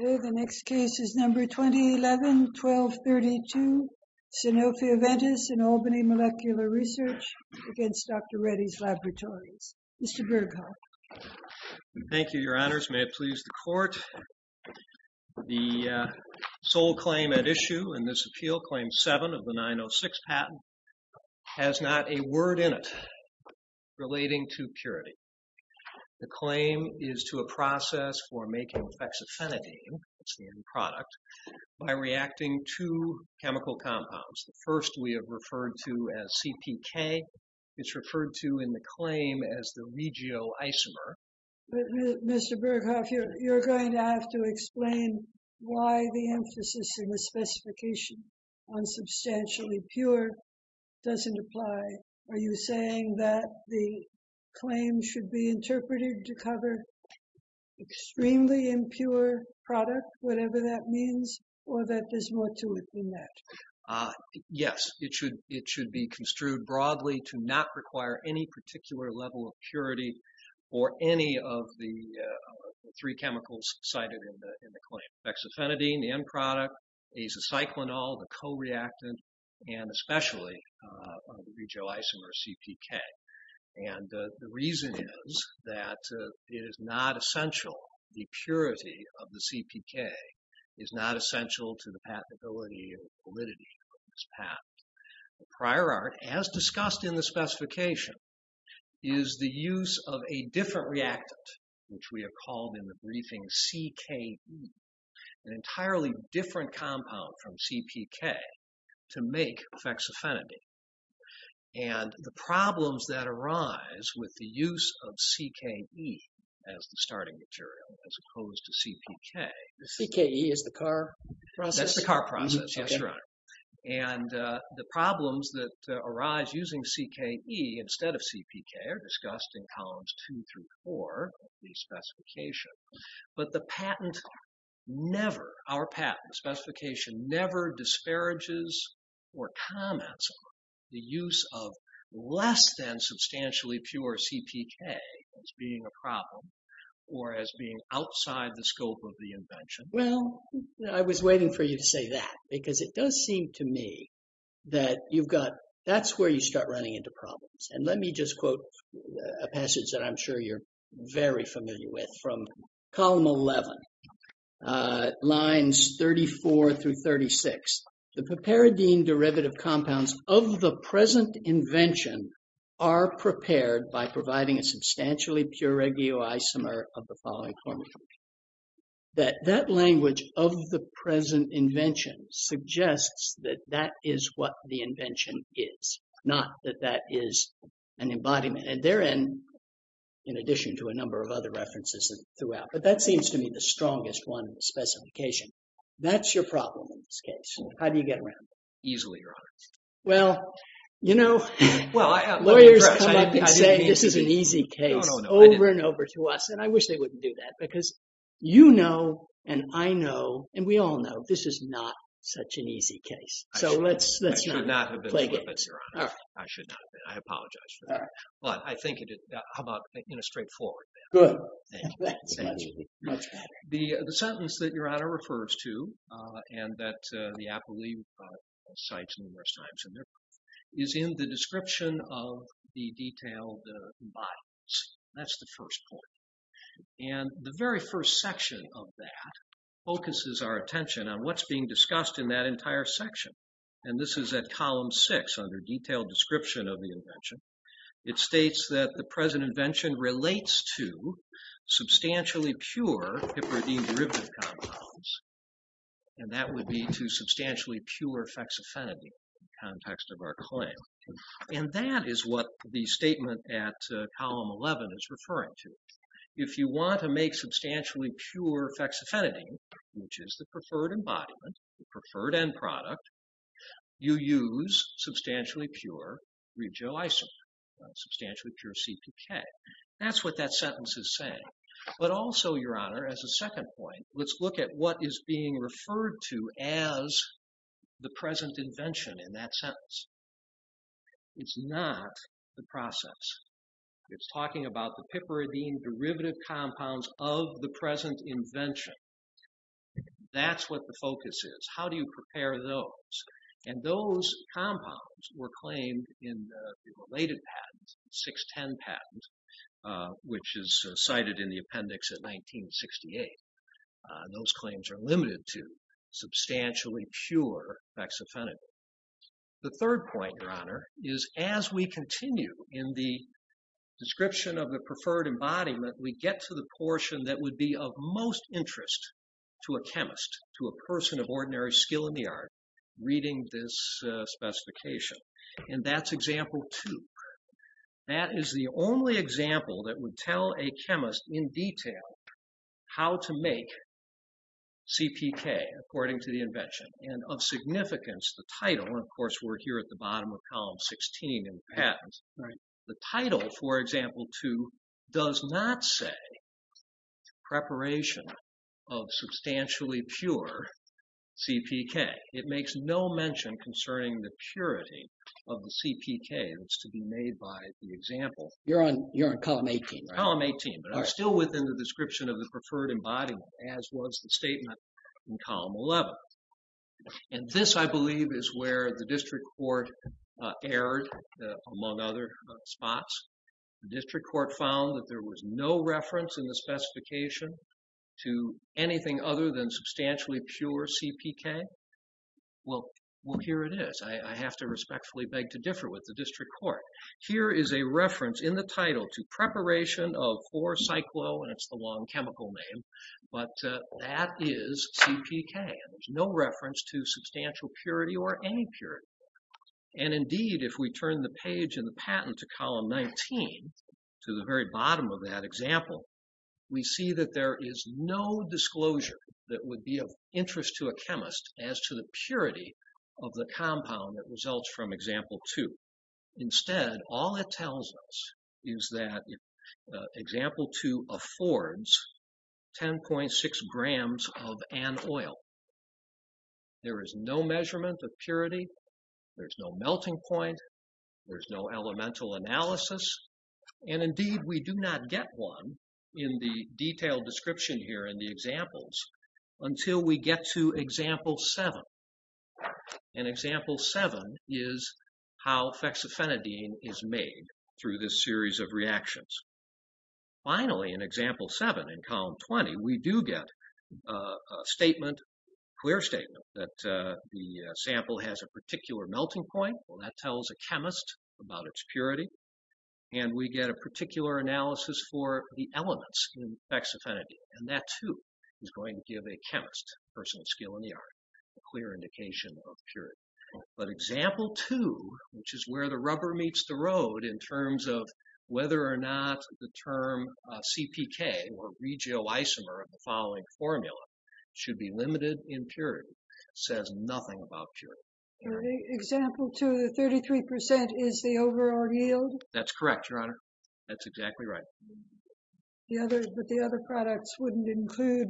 2011-12-32 SINOPHIA VENTIS & ALBANY MOLECULAR RESEARCH v. DR REDDYS LABORATORIES Mr. Berghoff. Thank you, Your Honors. May it please the Court, the sole claim at issue in this appeal, Claim 7 of the 906 patent, has not a word in it relating to purity. The claim is to a process for making hexafenidine, that's the end product, by reacting two chemical compounds. The first we have referred to as CPK. It's referred to in the claim as the regioisomer. Mr. Berghoff, you're going to have to explain why the emphasis in the specification on substantially pure doesn't apply. Are you saying that the claim should be interpreted to cover extremely impure product, whatever that means, or that there's more to it than that? Yes. It should be construed broadly to not require any particular level of purity for any of the three chemicals cited in the claim. Hexafenidine, the end product, azacyclinol, the co-reactant, and especially the regioisomer CPK. And the reason is that it is not essential. The purity of the CPK is not essential to the patentability or validity of this patent. The prior art, as discussed in the specification, is the use of a different reactant, which we have called in the briefing CKE, an entirely different compound from CPK, to make hexafenidine. And the problems that arise with the use of CKE as the starting material, as opposed to CPK... The CKE is the car process? That's the car process, yes, Your Honor. And the problems that arise using CKE instead of CPK are discussed in columns two through four of the specification. But the patent never, our patent specification, never disparages or comments on the use of less than substantially pure CPK as being a problem or as being outside the scope of the invention. Well, I was waiting for you to say that, because it does seem to me that you've got... That's where you start running into problems. And let me just quote a passage that I'm sure you're very familiar with from column 11, lines 34 through 36. The papiridine derivative compounds of the present invention are prepared by providing a substantially pure regioisomer of the following formula. That language, of the present invention, suggests that that is what the invention is, not that that is an embodiment. And therein, in addition to a number of other references throughout, but that seems to me the strongest one in the specification. That's your problem in this case. How do you get around it? Easily, Your Honor. Well, you know, lawyers come up and say this is an easy case over and over to us, and I wish they wouldn't do that, because you know, and I know, and we all know, this is not such an easy case. So let's not play games. I should not. I apologize for that. But I think, how about in a straightforward manner? Good. Thank you. Much better. The sentence that Your Honor refers to, and that the appellee cites numerous times in their proof, is in the description of the detailed embodiments. That's the first point. And the very first section of that focuses our attention on what's being discussed in that entire section. And this is at Column 6, under Detailed Description of the Invention. It states that the present invention relates to substantially pure hyperidine derivative compounds, and that would be to substantially pure fexofenadine in the context of our claim. And that is what the statement at Column 11 is referring to. If you want to make substantially pure fexofenadine, which is the preferred embodiment, the preferred end product, you use substantially pure regioisomer, substantially pure CPK. That's what that sentence is saying. But also, Your Honor, as a second point, let's look at what is being referred to as the present invention in that sentence. It's not the process. It's talking about the piperidine derivative compounds of the present invention. That's what the focus is. How do you prepare those? And those compounds were claimed in the related patent, 610 patent, which is cited in the appendix at 1968. Those claims are limited to substantially pure fexofenadine. The third point, Your Honor, is as we continue in the description of the preferred embodiment, we get to the portion that would be of most interest to a chemist, to a person of ordinary skill in the art, reading this specification. And that's Example 2. That is the only example that would tell a chemist in detail how to make CPK, according to the invention. And of significance, the title, and of course we're here at the bottom of Column 16 in the title, for example, 2, does not say preparation of substantially pure CPK. It makes no mention concerning the purity of the CPK that's to be made by the example. You're on Column 18, right? Column 18. But it's still within the description of the preferred embodiment, as was the statement in Column 11. And this, I believe, is where the District Court erred, among other spots. The District Court found that there was no reference in the specification to anything other than substantially pure CPK. Well, here it is. I have to respectfully beg to differ with the District Court. Here is a reference in the title to preparation of 4-Cyclo, and it's the long chemical name, but that is CPK. There's no reference to substantial purity or any purity. And indeed, if we turn the page in the patent to Column 19, to the very bottom of that example, we see that there is no disclosure that would be of interest to a chemist as to the purity of the compound that results from Example 2. Instead, all it tells us is that Example 2 affords 10.6 grams of an oil. There is no measurement of purity. There's no melting point. There's no elemental analysis. And indeed, we do not get one in the detailed description here in the examples until we get to Example 7. And Example 7 is how fexofenadine is made through this series of reactions. Finally, in Example 7, in Column 20, we do get a statement, clear statement, that the sample has a particular melting point. Well, that tells a chemist about its purity. And we get a particular analysis for the elements in fexofenadine, and that too is going to give a chemist personal skill in the art, a clear indication of purity. But Example 2, which is where the rubber meets the road in terms of whether or not the term CPK or regioisomer of the following formula should be limited in purity, says nothing about purity. Example 2, the 33% is the overall yield? That's correct, Your Honor. That's exactly right. But the other products wouldn't include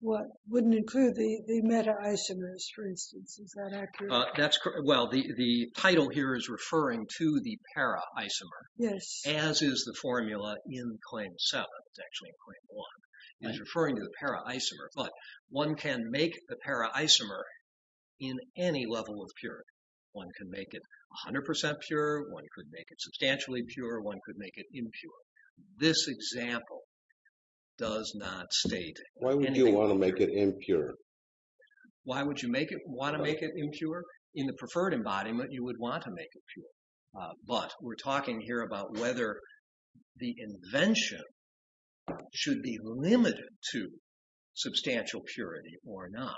the meta-isomers, for instance. Is that accurate? Well, the title here is referring to the para-isomer, as is the formula in Claim 7. It's actually in Claim 1. It's referring to the para-isomer. But one can make the para-isomer in any level of purity. One can make it 100% pure. One could make it substantially pure. One could make it impure. This example does not state anything impure. Why would you want to make it impure? Why would you want to make it impure? In the preferred embodiment, you would want to make it pure. But we're talking here about whether the invention should be limited to substantial purity or not.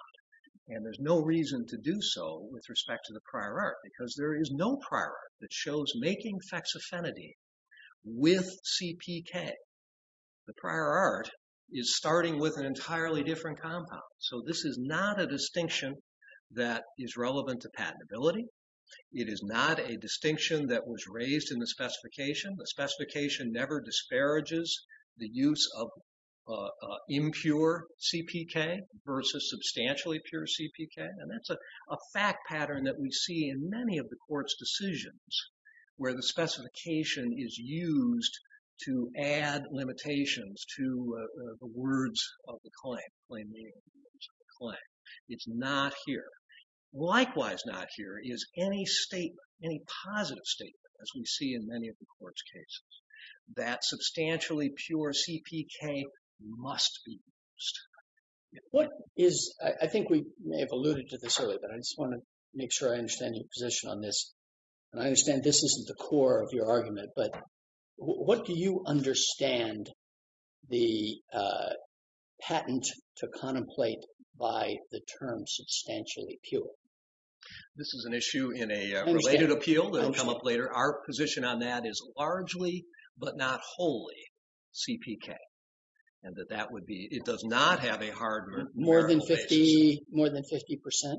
And there's no reason to do so with respect to the prior art, because there is no prior art that shows making fexofenadine with CPK. The prior art is starting with an entirely different compound. So this is not a distinction that is relevant to patentability. It is not a distinction that was raised in the specification. The specification never disparages the use of impure CPK versus substantially pure CPK. And that's a fact pattern that we see in many of the court's decisions, where the specification is used to add limitations to the words of the claim, plain meaning of the words of the claim. It's not here. Likewise not here is any statement, any positive statement, as we see in many of the court's cases, that substantially pure CPK must be used. What is – I think we may have alluded to this earlier, but I just want to make sure I understand your position on this. And I understand this isn't the core of your argument, but what do you understand the patent to contemplate by the term substantially pure? This is an issue in a related appeal that will come up later. Our position on that is largely but not wholly CPK, and that that would be – it does not have a hard numerical basis. More than 50%?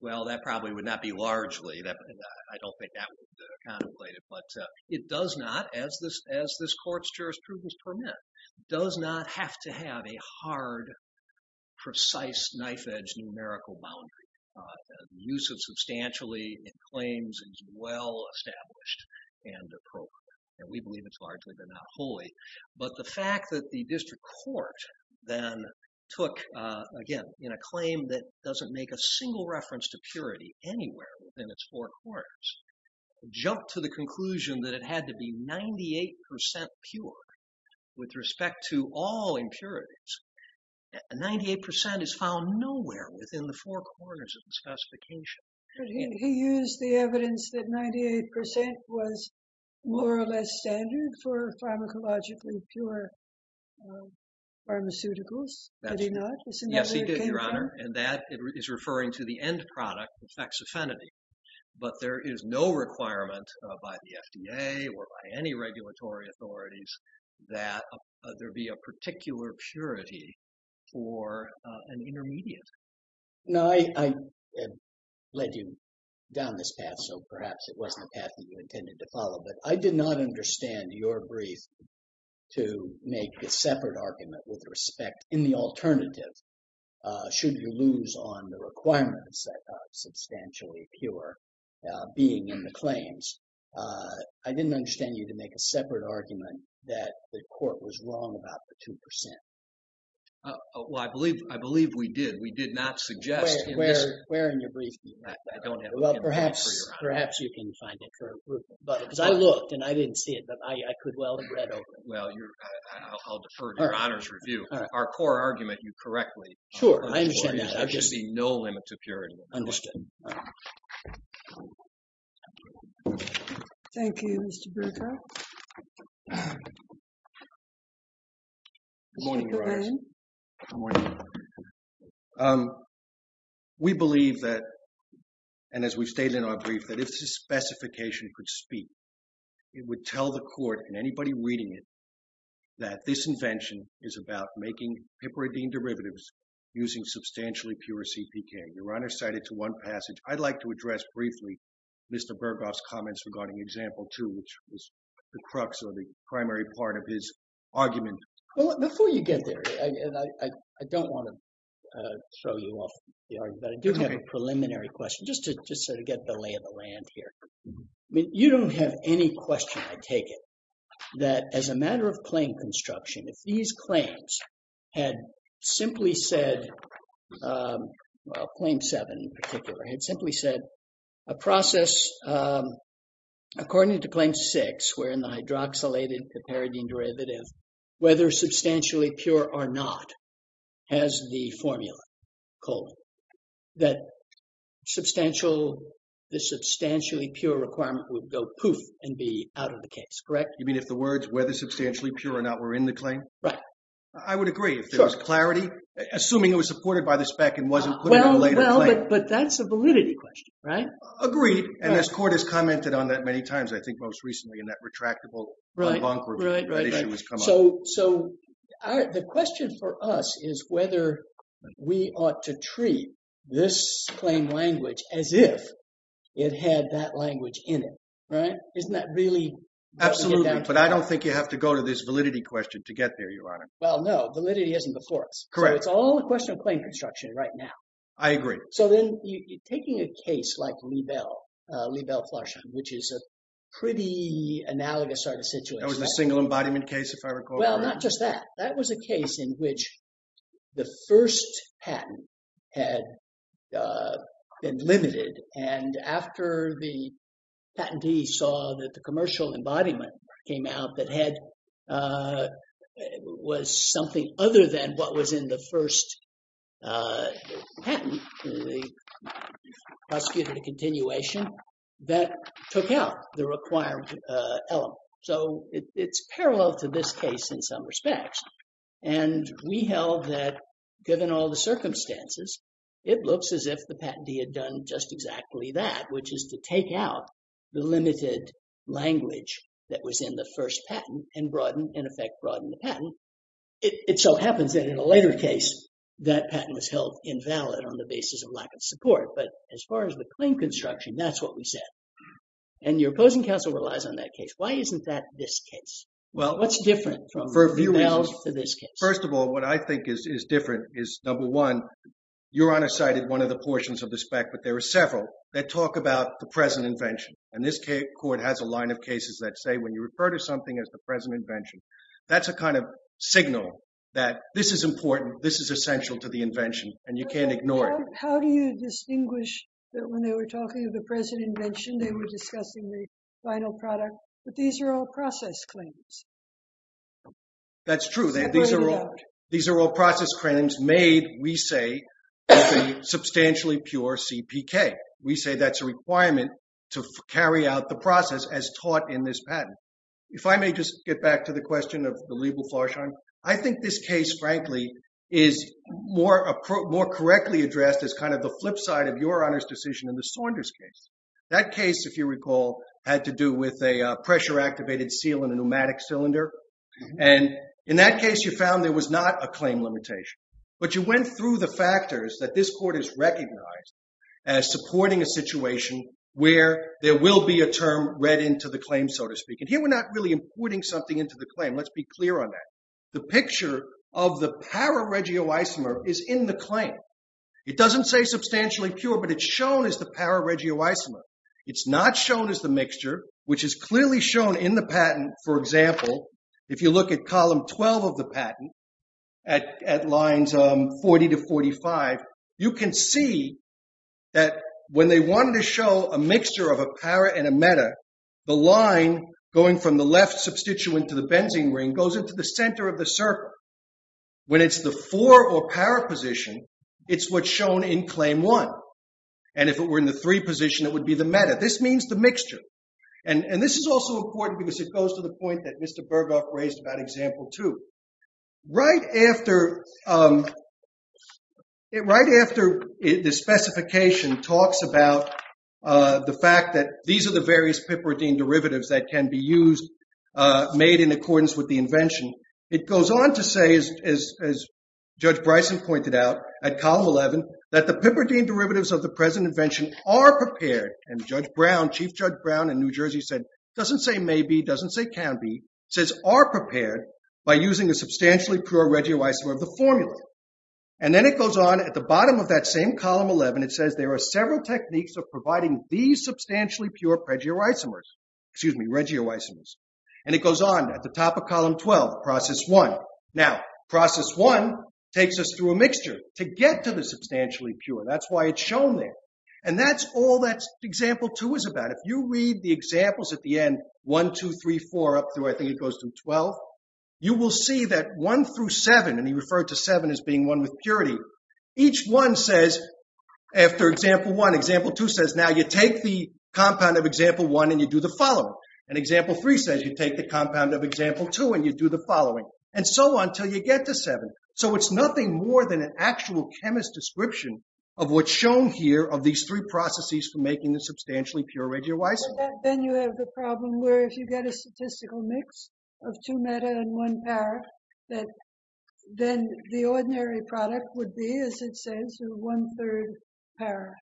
Well, that probably would not be largely. I don't think that would contemplate it. But it does not, as this court's jurisprudence permits, does not have to have a hard, precise, knife-edge numerical boundary. The use of substantially in claims is well established and appropriate, and we believe it's largely but not wholly. But the fact that the district court then took, again, in a claim that doesn't make a single reference to purity anywhere within its four corners, jumped to the conclusion that it had to be 98% pure with respect to all impurities. 98% is found nowhere within the four corners of the specification. He used the evidence that 98% was more or less standard for pharmacologically pure pharmaceuticals. Did he not? Yes, he did, Your Honor. And that is referring to the end product, the faxophenidine. But there is no requirement by the FDA or by any regulatory authorities that there be a particular purity for an intermediate. No, I led you down this path, so perhaps it wasn't the path that you intended to follow. But I did not understand your brief to make a separate argument with respect in the alternative, should you lose on the requirements that substantially pure being in the claims. I didn't understand you to make a separate argument that the court was wrong about the 2%. Well, I believe we did. We did not suggest. Where in your brief do you have that? I don't have it. Well, perhaps you can find it. Because I looked and I didn't see it, but I could well have read over it. Well, I'll defer to Your Honor's review. Our core argument, you correctly. Sure, I understand that. I've just seen no limit to purity. Understood. Thank you, Mr. Bruecker. Good morning, Your Honor. Good morning. We believe that, and as we've stated in our brief, that if this specification could speak, it would tell the court and anybody reading it that this invention is about making piperidine derivatives using substantially pure CPK. Your Honor cited to one passage. I'd like to address briefly Mr. Burghoff's comments regarding example two, which was the crux or the primary part of his argument. Well, before you get there, and I don't want to throw you off the argument, but I do have a preliminary question just to get the lay of the land here. You don't have any question, I take it, that as a matter of claim construction, if these claims had simply said, well, claim seven in particular, had simply said a process, according to claim six, wherein the hydroxylated piperidine derivative, whether substantially pure or not, has the formula, colon, that the substantially pure requirement would go poof and be out of the case, correct? You mean if the words whether substantially pure or not were in the claim? Right. I would agree. Sure. If there was clarity, assuming it was supported by the spec and wasn't put in a later claim. Well, but that's a validity question, right? Agreed. And this court has commented on that many times, I think most recently, in that retractable en banc review that issue has come up. So the question for us is whether we ought to treat this claim language as if it had that language in it, right? Isn't that really what we get down to? Absolutely. But I don't think you have to go to this validity question to get there, Your Honor. Well, no. Validity isn't before us. Correct. So it's all a question of claim construction right now. I agree. So then taking a case like Liebel, Liebel-Flarschein, which is a pretty analogous sort of situation. That was the single embodiment case, if I recall correctly. Well, not just that. That was a case in which the first patent had been limited, and after the patentee saw that the commercial embodiment came out that was something other than what was in the first patent, the prosecutorial continuation, that took out the required element. So it's parallel to this case in some respects. And we held that given all the circumstances, it looks as if the patentee had done just exactly that, which is to take out the limited language that was in the first patent and, in effect, broaden the patent. It so happens that in a later case, that patent was held invalid on the basis of lack of support. But as far as the claim construction, that's what we said. And your opposing counsel relies on that case. Why isn't that this case? Well, for a few reasons. What's different from Liebel to this case? First of all, what I think is different is, number one, Your Honor cited one of the portions of the spec, but there are several, that talk about the present invention. And this court has a line of cases that say when you refer to something as the present invention, that's a kind of signal that this is important, this is essential to the invention, and you can't ignore it. How do you distinguish that when they were talking of the present invention, they were discussing the final product, but these are all process claims? That's true. These are all process claims made, we say, with a substantially pure CPK. We say that's a requirement to carry out the process as taught in this patent. If I may just get back to the question of the Liebel-Forschheim, I think this case, frankly, is more correctly addressed as kind of the flip side of Your Honor's decision in the Saunders case. That case, if you recall, had to do with a pressure-activated seal in a pneumatic cylinder. And in that case, you found there was not a claim limitation. But you went through the factors that this court has recognized as supporting a situation where there will be a term read into the claim, so to speak. And here we're not really importing something into the claim. Let's be clear on that. The picture of the pararegioisomer is in the claim. It doesn't say substantially pure, but it's shown as the pararegioisomer. It's not shown as the mixture, which is clearly shown in the patent. For example, if you look at column 12 of the patent at lines 40 to 45, you can see that when they wanted to show a mixture of a para and a meta, the line going from the left substituent to the benzene ring goes into the center of the circle. When it's the 4 or para position, it's what's shown in claim 1. And if it were in the 3 position, it would be the meta. This means the mixture. And this is also important because it goes to the point that Mr. Burghoff raised about example 2. Right after the specification talks about the fact that these are the various piperidine derivatives that can be used made in accordance with the invention, it goes on to say, as Judge Bryson pointed out at column 11, that the piperidine derivatives of the present invention are prepared. And Chief Judge Brown in New Jersey said, doesn't say may be, doesn't say can be. Says are prepared by using a substantially pure regioisomer of the formula. And then it goes on at the bottom of that same column 11, it says there are several techniques of providing these substantially pure regioisomers. And it goes on at the top of column 12, process 1. Now, process 1 takes us through a mixture to get to the substantially pure. That's why it's shown there. And that's all that example 2 is about. If you read the examples at the end, 1, 2, 3, 4 up through, I think it goes through 12, you will see that 1 through 7, and he referred to 7 as being one with purity, each one says, after example 1, example 2 says, now you take the compound of example 1 and you do the following. And example 3 says you take the compound of example 2 and you do the following. And so on until you get to 7. So it's nothing more than an actual chemist's description of what's shown here of these three processes for making the substantially pure regioisomer. Then you have the problem where if you get a statistical mix of two meta and one para, then the ordinary product would be, as it says, one third para.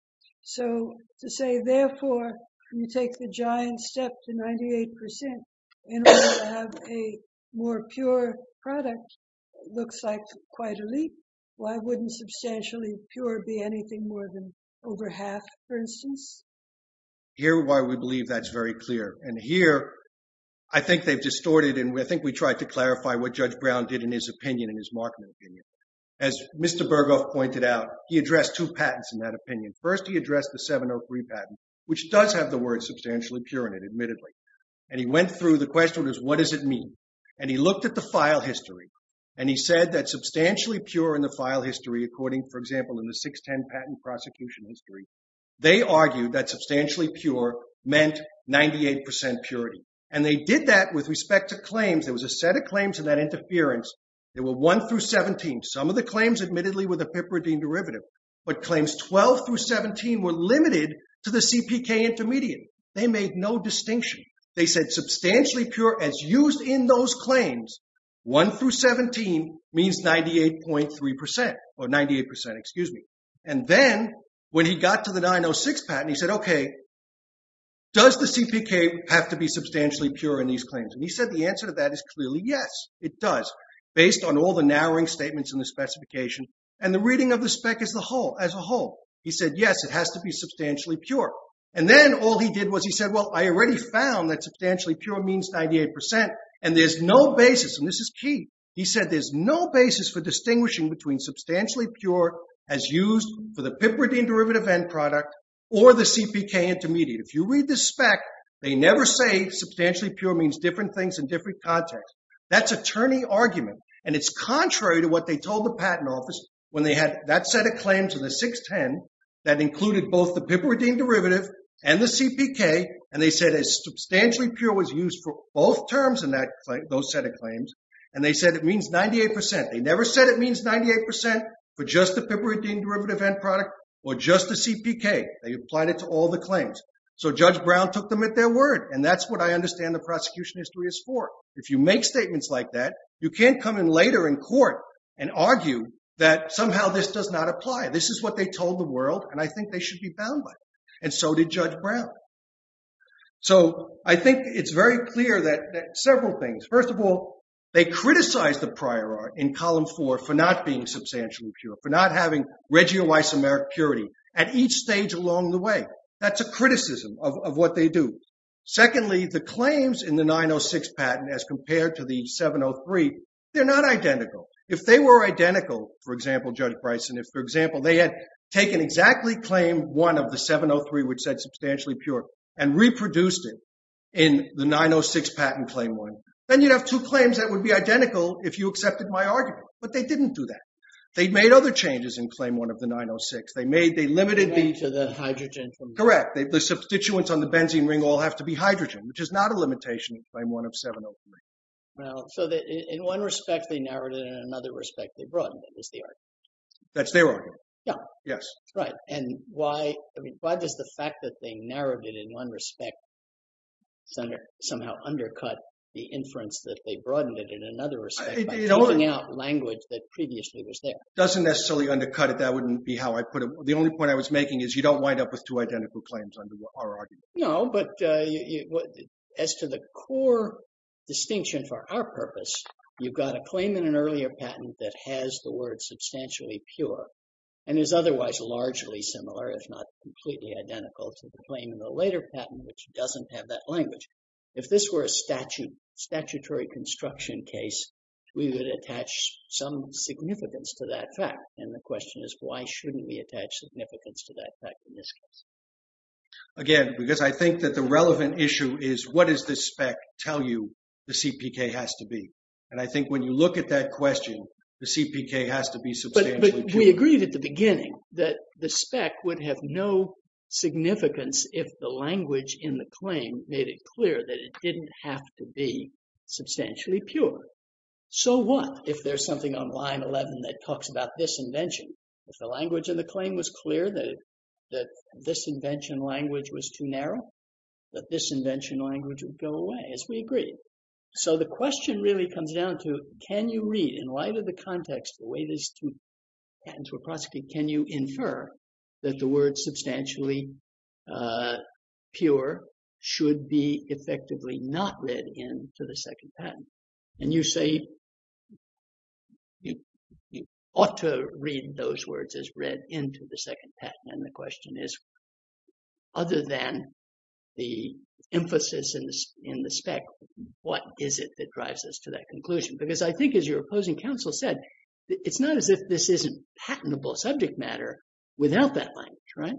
So to say, therefore, you take the giant step to 98% in order to have a more pure product looks like quite a leap. Why wouldn't substantially pure be anything more than over half, for instance? Here, why we believe that's very clear. And here, I think they've distorted, and I think we tried to clarify what Judge Brown did in his opinion, in his Markman opinion. As Mr. Berghoff pointed out, he addressed two patents in that opinion. First, he addressed the 703 patent, which does have the word substantially pure in it, admittedly. And he went through, the question was, what does it mean? And he looked at the file history, and he said that substantially pure in the file history, according, for example, in the 610 patent prosecution history, they argued that substantially pure meant 98% purity. And they did that with respect to claims. There was a set of claims in that interference. There were 1 through 17. Some of the claims, admittedly, were the piperidine derivative. But claims 12 through 17 were limited to the CPK intermediate. They made no distinction. They said substantially pure as used in those claims, 1 through 17 means 98.3%, or 98%, excuse me. And then, when he got to the 906 patent, he said, okay, does the CPK have to be substantially pure in these claims? And he said the answer to that is clearly yes, it does, based on all the narrowing statements in the specification, and the reading of the spec as a whole. He said, yes, it has to be substantially pure. And then all he did was he said, well, I already found that substantially pure means 98%, and there's no basis, and this is key, he said there's no basis for distinguishing between substantially pure as used for the piperidine derivative end product, or the CPK intermediate. If you read the spec, they never say substantially pure means different things in different contexts. That's attorney argument. And it's contrary to what they told the patent office when they had that set of claims in the 610 that included both the piperidine derivative and the CPK, and they said substantially pure was used for both terms in those set of claims, and they said it means 98%. They never said it means 98% for just the piperidine derivative end product or just the CPK. They applied it to all the claims. So Judge Brown took them at their word, and that's what I understand the prosecution history is for. If you make statements like that, you can't come in later in court and argue that somehow this does not apply. This is what they told the world, and I think they should be bound by it. And so did Judge Brown. So I think it's very clear that several things. First of all, they criticized the prior art in Column 4 for not being substantially pure, for not having regioisomeric purity at each stage along the way. That's a criticism of what they do. Secondly, the claims in the 906 patent as compared to the 703, they're not identical. If they were identical, for example, Judge Bryson, if, for example, they had taken exactly Claim 1 of the 703, which said substantially pure, and reproduced it in the 906 patent Claim 1, then you'd have two claims that would be identical if you accepted my argument. But they didn't do that. They made other changes in Claim 1 of the 906. They limited the… They limited to the hydrogen from… Correct. The substituents on the benzene ring all have to be hydrogen, which is not a limitation in Claim 1 of 703. So in one respect they narrowed it, and in another respect they broadened it, is the argument. That's their argument? Yeah. Yes. Right. And why does the fact that they narrowed it in one respect somehow undercut the inference that they broadened it in another respect by taking out language that previously was there? It doesn't necessarily undercut it. That wouldn't be how I put it. The only point I was making is you don't wind up with two identical claims under our argument. No, but as to the core distinction for our purpose, you've got a claim in an earlier patent that has the word substantially pure and is otherwise largely similar, if not completely identical, to the claim in the later patent, which doesn't have that language. If this were a statutory construction case, we would attach some significance to that fact. And the question is, why shouldn't we attach significance to that fact in this case? Again, because I think that the relevant issue is what does this spec tell you the CPK has to be? And I think when you look at that question, the CPK has to be substantially pure. But we agreed at the beginning that the spec would have no significance if the language in the claim made it clear that it didn't have to be substantially pure. So what if there's something on line 11 that talks about this invention? If the language in the claim was clear that this invention language was too narrow, that this invention language would go away, as we agreed. So the question really comes down to, can you read in light of the context, the way these two patents were prosecuted, can you infer that the word substantially pure should be effectively not read into the second patent? And you say you ought to read those words as read into the second patent. And the question is, other than the emphasis in the spec, what is it that drives us to that conclusion? Because I think as your opposing counsel said, it's not as if this isn't patentable subject matter without that language, right?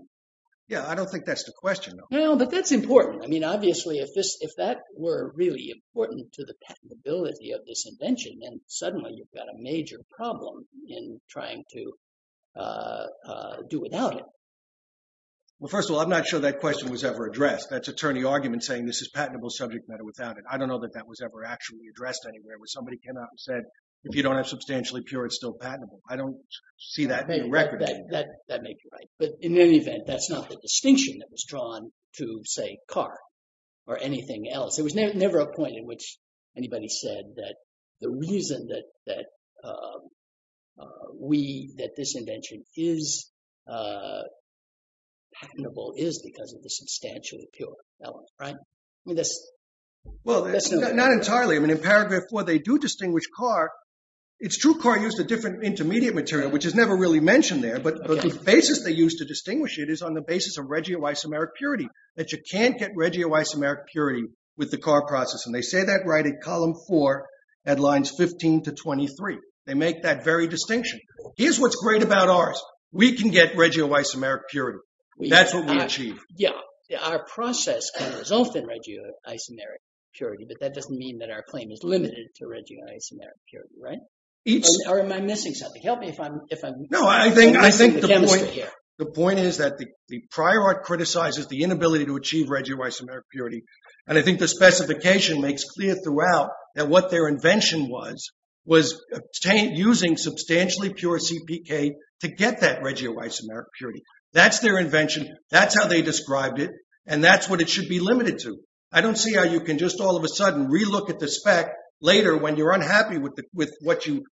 Yeah, I don't think that's the question. No, but that's important. I mean, obviously, if that were really important to the patentability of this invention, then suddenly you've got a major problem in trying to do without it. Well, first of all, I'm not sure that question was ever addressed. That's attorney argument saying this is patentable subject matter without it. I don't know that that was ever actually addressed anywhere, where somebody came out and said, if you don't have substantially pure, it's still patentable. I don't see that in the record. That may be right. But in any event, that's not the distinction that was drawn to, say, car or anything else. There was never a point in which anybody said that the reason that this invention is patentable is because of the substantially pure element, right? Well, not entirely. I mean, in paragraph four, they do distinguish car. It's true car used a different intermediate material, which is never really mentioned there. But the basis they used to distinguish it is on the basis of regioisomeric purity, that you can't get regioisomeric purity with the car process. And they say that right at column four at lines 15 to 23. They make that very distinction. Here's what's great about ours. We can get regioisomeric purity. That's what we achieve. Yeah. Our process can result in regioisomeric purity, but that doesn't mean that our claim is limited to regioisomeric purity, right? Or am I missing something? Help me if I'm missing the chemistry here. The point is that the prior art criticizes the inability to achieve regioisomeric purity. And I think the specification makes clear throughout that what their invention was, was using substantially pure CPK to get that regioisomeric purity. That's their invention. That's how they described it. And that's what it should be limited to. I don't see how you can just all of a sudden relook at the spec later when you're unhappy with what you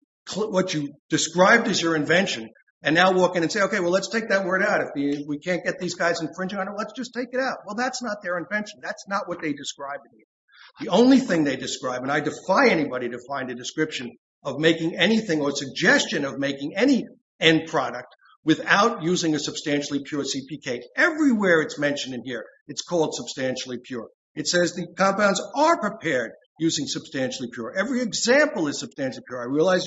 described as your invention and now walk in and say, okay, well, let's take that word out. If we can't get these guys infringing on it, let's just take it out. Well, that's not their invention. That's not what they described. The only thing they described, and I defy anybody to find a description of making anything or a suggestion of making any end product without using a substantially pure CPK. Everywhere it's mentioned in here, it's called substantially pure. It says the compounds are prepared using substantially pure. Every example is substantially pure. I realize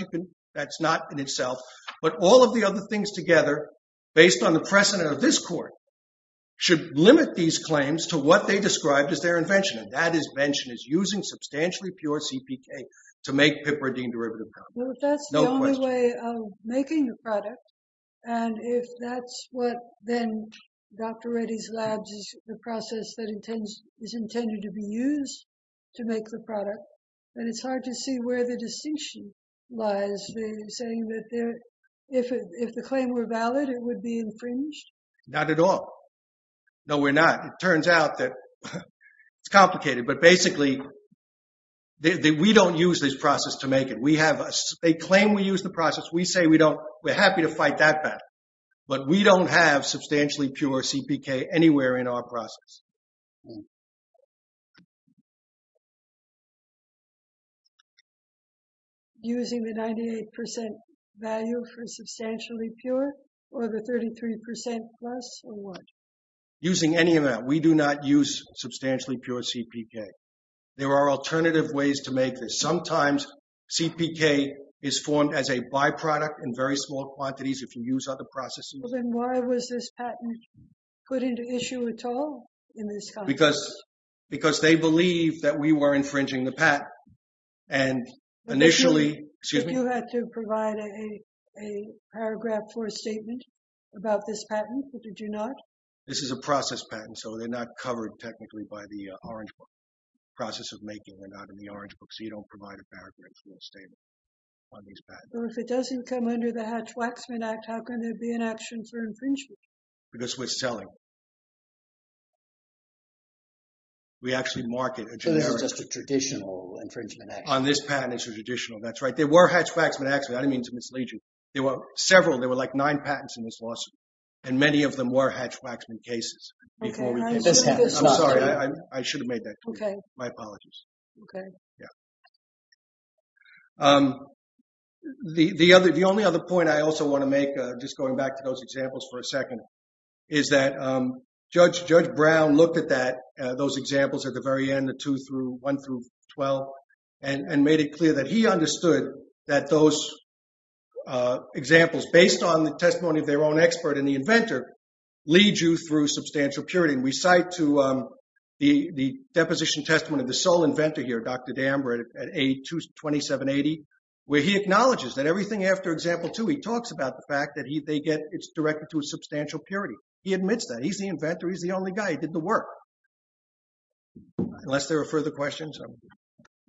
that's not in itself, but all of the other things together, based on the precedent of this court, should limit these claims to what they described as their invention, and that invention is using substantially pure CPK to make piperidine derivative compounds. No question. Well, if that's the only way of making a product, and if that's what then Dr. Reddy's labs is, the process that is intended to be used to make the product, then it's hard to see where the distinction lies. They're saying that if the claim were valid, it would be infringed? Not at all. No, we're not. It turns out that it's complicated, but basically we don't use this process to make it. They claim we use the process. We say we're happy to fight that battle, but we don't have substantially pure CPK anywhere in our process. Using the 98% value for substantially pure, or the 33% plus, or what? Using any of that. We do not use substantially pure CPK. There are alternative ways to make this. Sometimes CPK is formed as a byproduct in very small quantities if you use other processes. Then why was this patent put into issue at all? Because they believe that we were infringing the patent, and initially— But you had to provide a paragraph for a statement about this patent, but did you not? This is a process patent, so they're not covered technically by the Orange Book, process of making. They're not in the Orange Book, so you don't provide a paragraph for a statement on these patents. If it doesn't come under the Hatch-Waxman Act, how can there be an action for infringement? Because we're selling. We actually market a generic— So this is just a traditional infringement action? On this patent, it's a traditional. That's right. There were Hatch-Waxman Actions. I didn't mean to mislead you. There were several. There were like nine patents in this lawsuit, and many of them were Hatch-Waxman cases before we did this patent. I'm sorry. I should have made that clear. My apologies. Okay. Yeah. The only other point I also want to make, just going back to those examples for a second, is that Judge Brown looked at those examples at the very end, the 2 through 1 through 12, and made it clear that he understood that those examples, based on the testimony of their own expert and the inventor, lead you through substantial purity. And we cite to the deposition testament of the sole inventor here, Dr. Damber, at A2780, where he acknowledges that everything after example 2, he talks about the fact that they get—it's directed to a substantial purity. He admits that. He's the inventor. He's the only guy. He did the work. Unless there are further questions. Any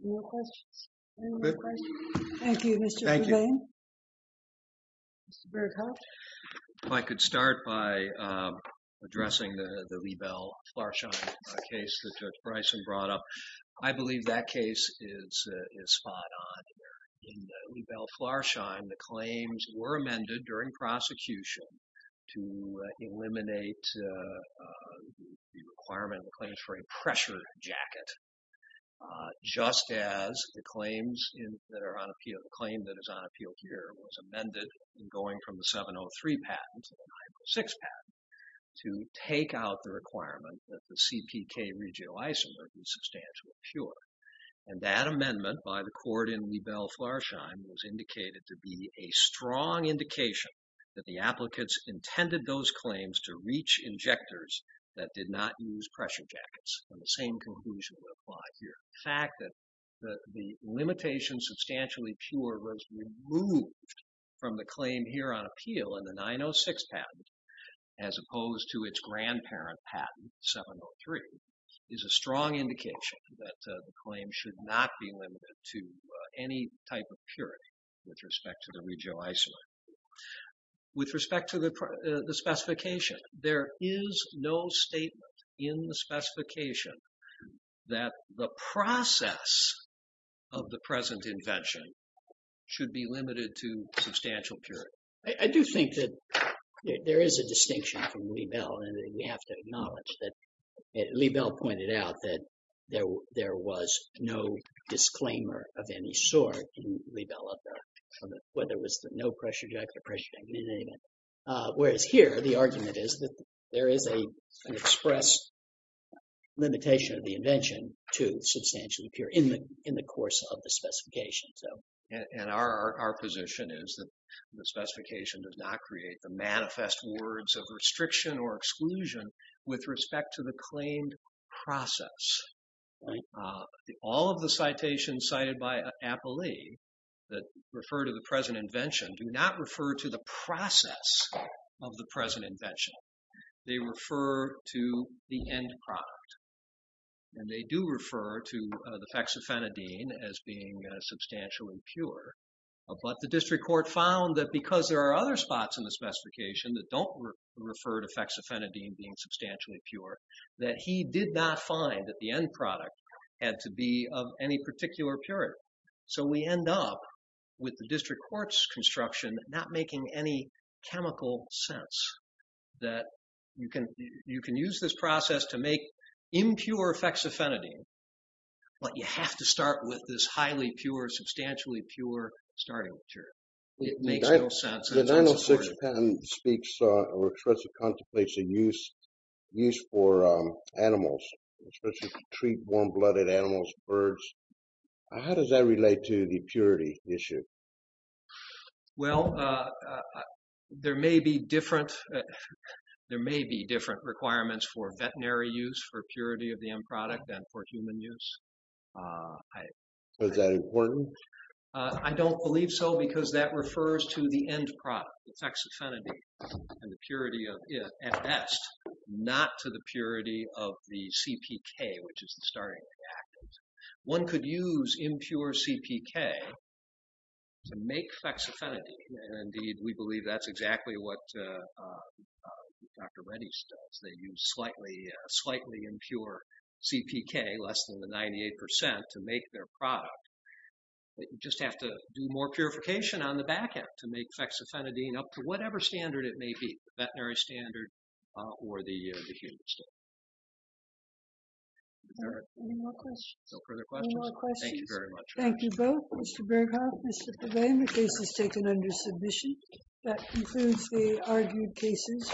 more questions? Any more questions? Thank you, Mr. Verlaine. Thank you. Mr. Berghoff? If I could start by addressing the Liebel-Flarschein case that Judge Bryson brought up. I believe that case is spot on here. In the Liebel-Flarschein, the claims were amended during prosecution to eliminate the requirement of the claims for a pressure jacket, just as the claims that are on appeal—the claim that is on appeal here was amended going from the 703 patent to the 906 patent to take out the requirement that the CPK regional isomer be substantially pure. And that amendment by the court in Liebel-Flarschein was indicated to be a strong indication that the applicants intended those claims to reach injectors that did not use pressure jackets. And the same conclusion would apply here. The fact that the limitation substantially pure was removed from the claim here on appeal in the 906 patent, as opposed to its grandparent patent, 703, is a strong indication that the claim should not be limited to any type of purity with respect to the regional isomer. With respect to the specification, there is no statement in the specification that the process of the present invention should be limited to substantial purity. I do think that there is a distinction from Liebel, and we have to acknowledge that Liebel pointed out that there was no disclaimer of any sort in Liebel on whether it was the no pressure jacket or pressure jacket, in any event. Whereas here, the argument is that there is an express limitation of the invention to substantially pure in the course of the specification. And our position is that the specification does not create the manifest words of restriction or exclusion with respect to the claimed process. All of the citations cited by Apolli that refer to the present invention do not refer to the process of the present invention. They refer to the end product, and they do refer to the fexofenadine as being substantially pure. But the district court found that because there are other spots in the specification that don't refer to fexofenadine being substantially pure, that he did not find that the end product had to be of any particular purity. So we end up with the district court's construction not making any chemical sense that you can use this process to make impure fexofenadine, but you have to start with this highly pure, substantially pure starting material. It makes no sense. The 906 patent speaks or expresses contemplates a use for animals, especially to treat warm-blooded animals, birds. How does that relate to the purity issue? Well, there may be different requirements for veterinary use for purity of the end product than for human use. Is that important? I don't believe so because that refers to the end product, the fexofenadine, and the purity of it at best, not to the purity of the CPK, which is the starting reactant. One could use impure CPK to make fexofenadine, and, indeed, we believe that's exactly what Dr. Reddy's does. They use slightly impure CPK, less than the 98%, to make their product. You just have to do more purification on the back end to make fexofenadine up to whatever standard it may be, the veterinary standard or the human standard. Any more questions? No further questions. Any more questions? Thank you very much. Thank you both, Mr. Berghoff, Mr. Pavane. The case is taken under submission. That concludes the argued cases.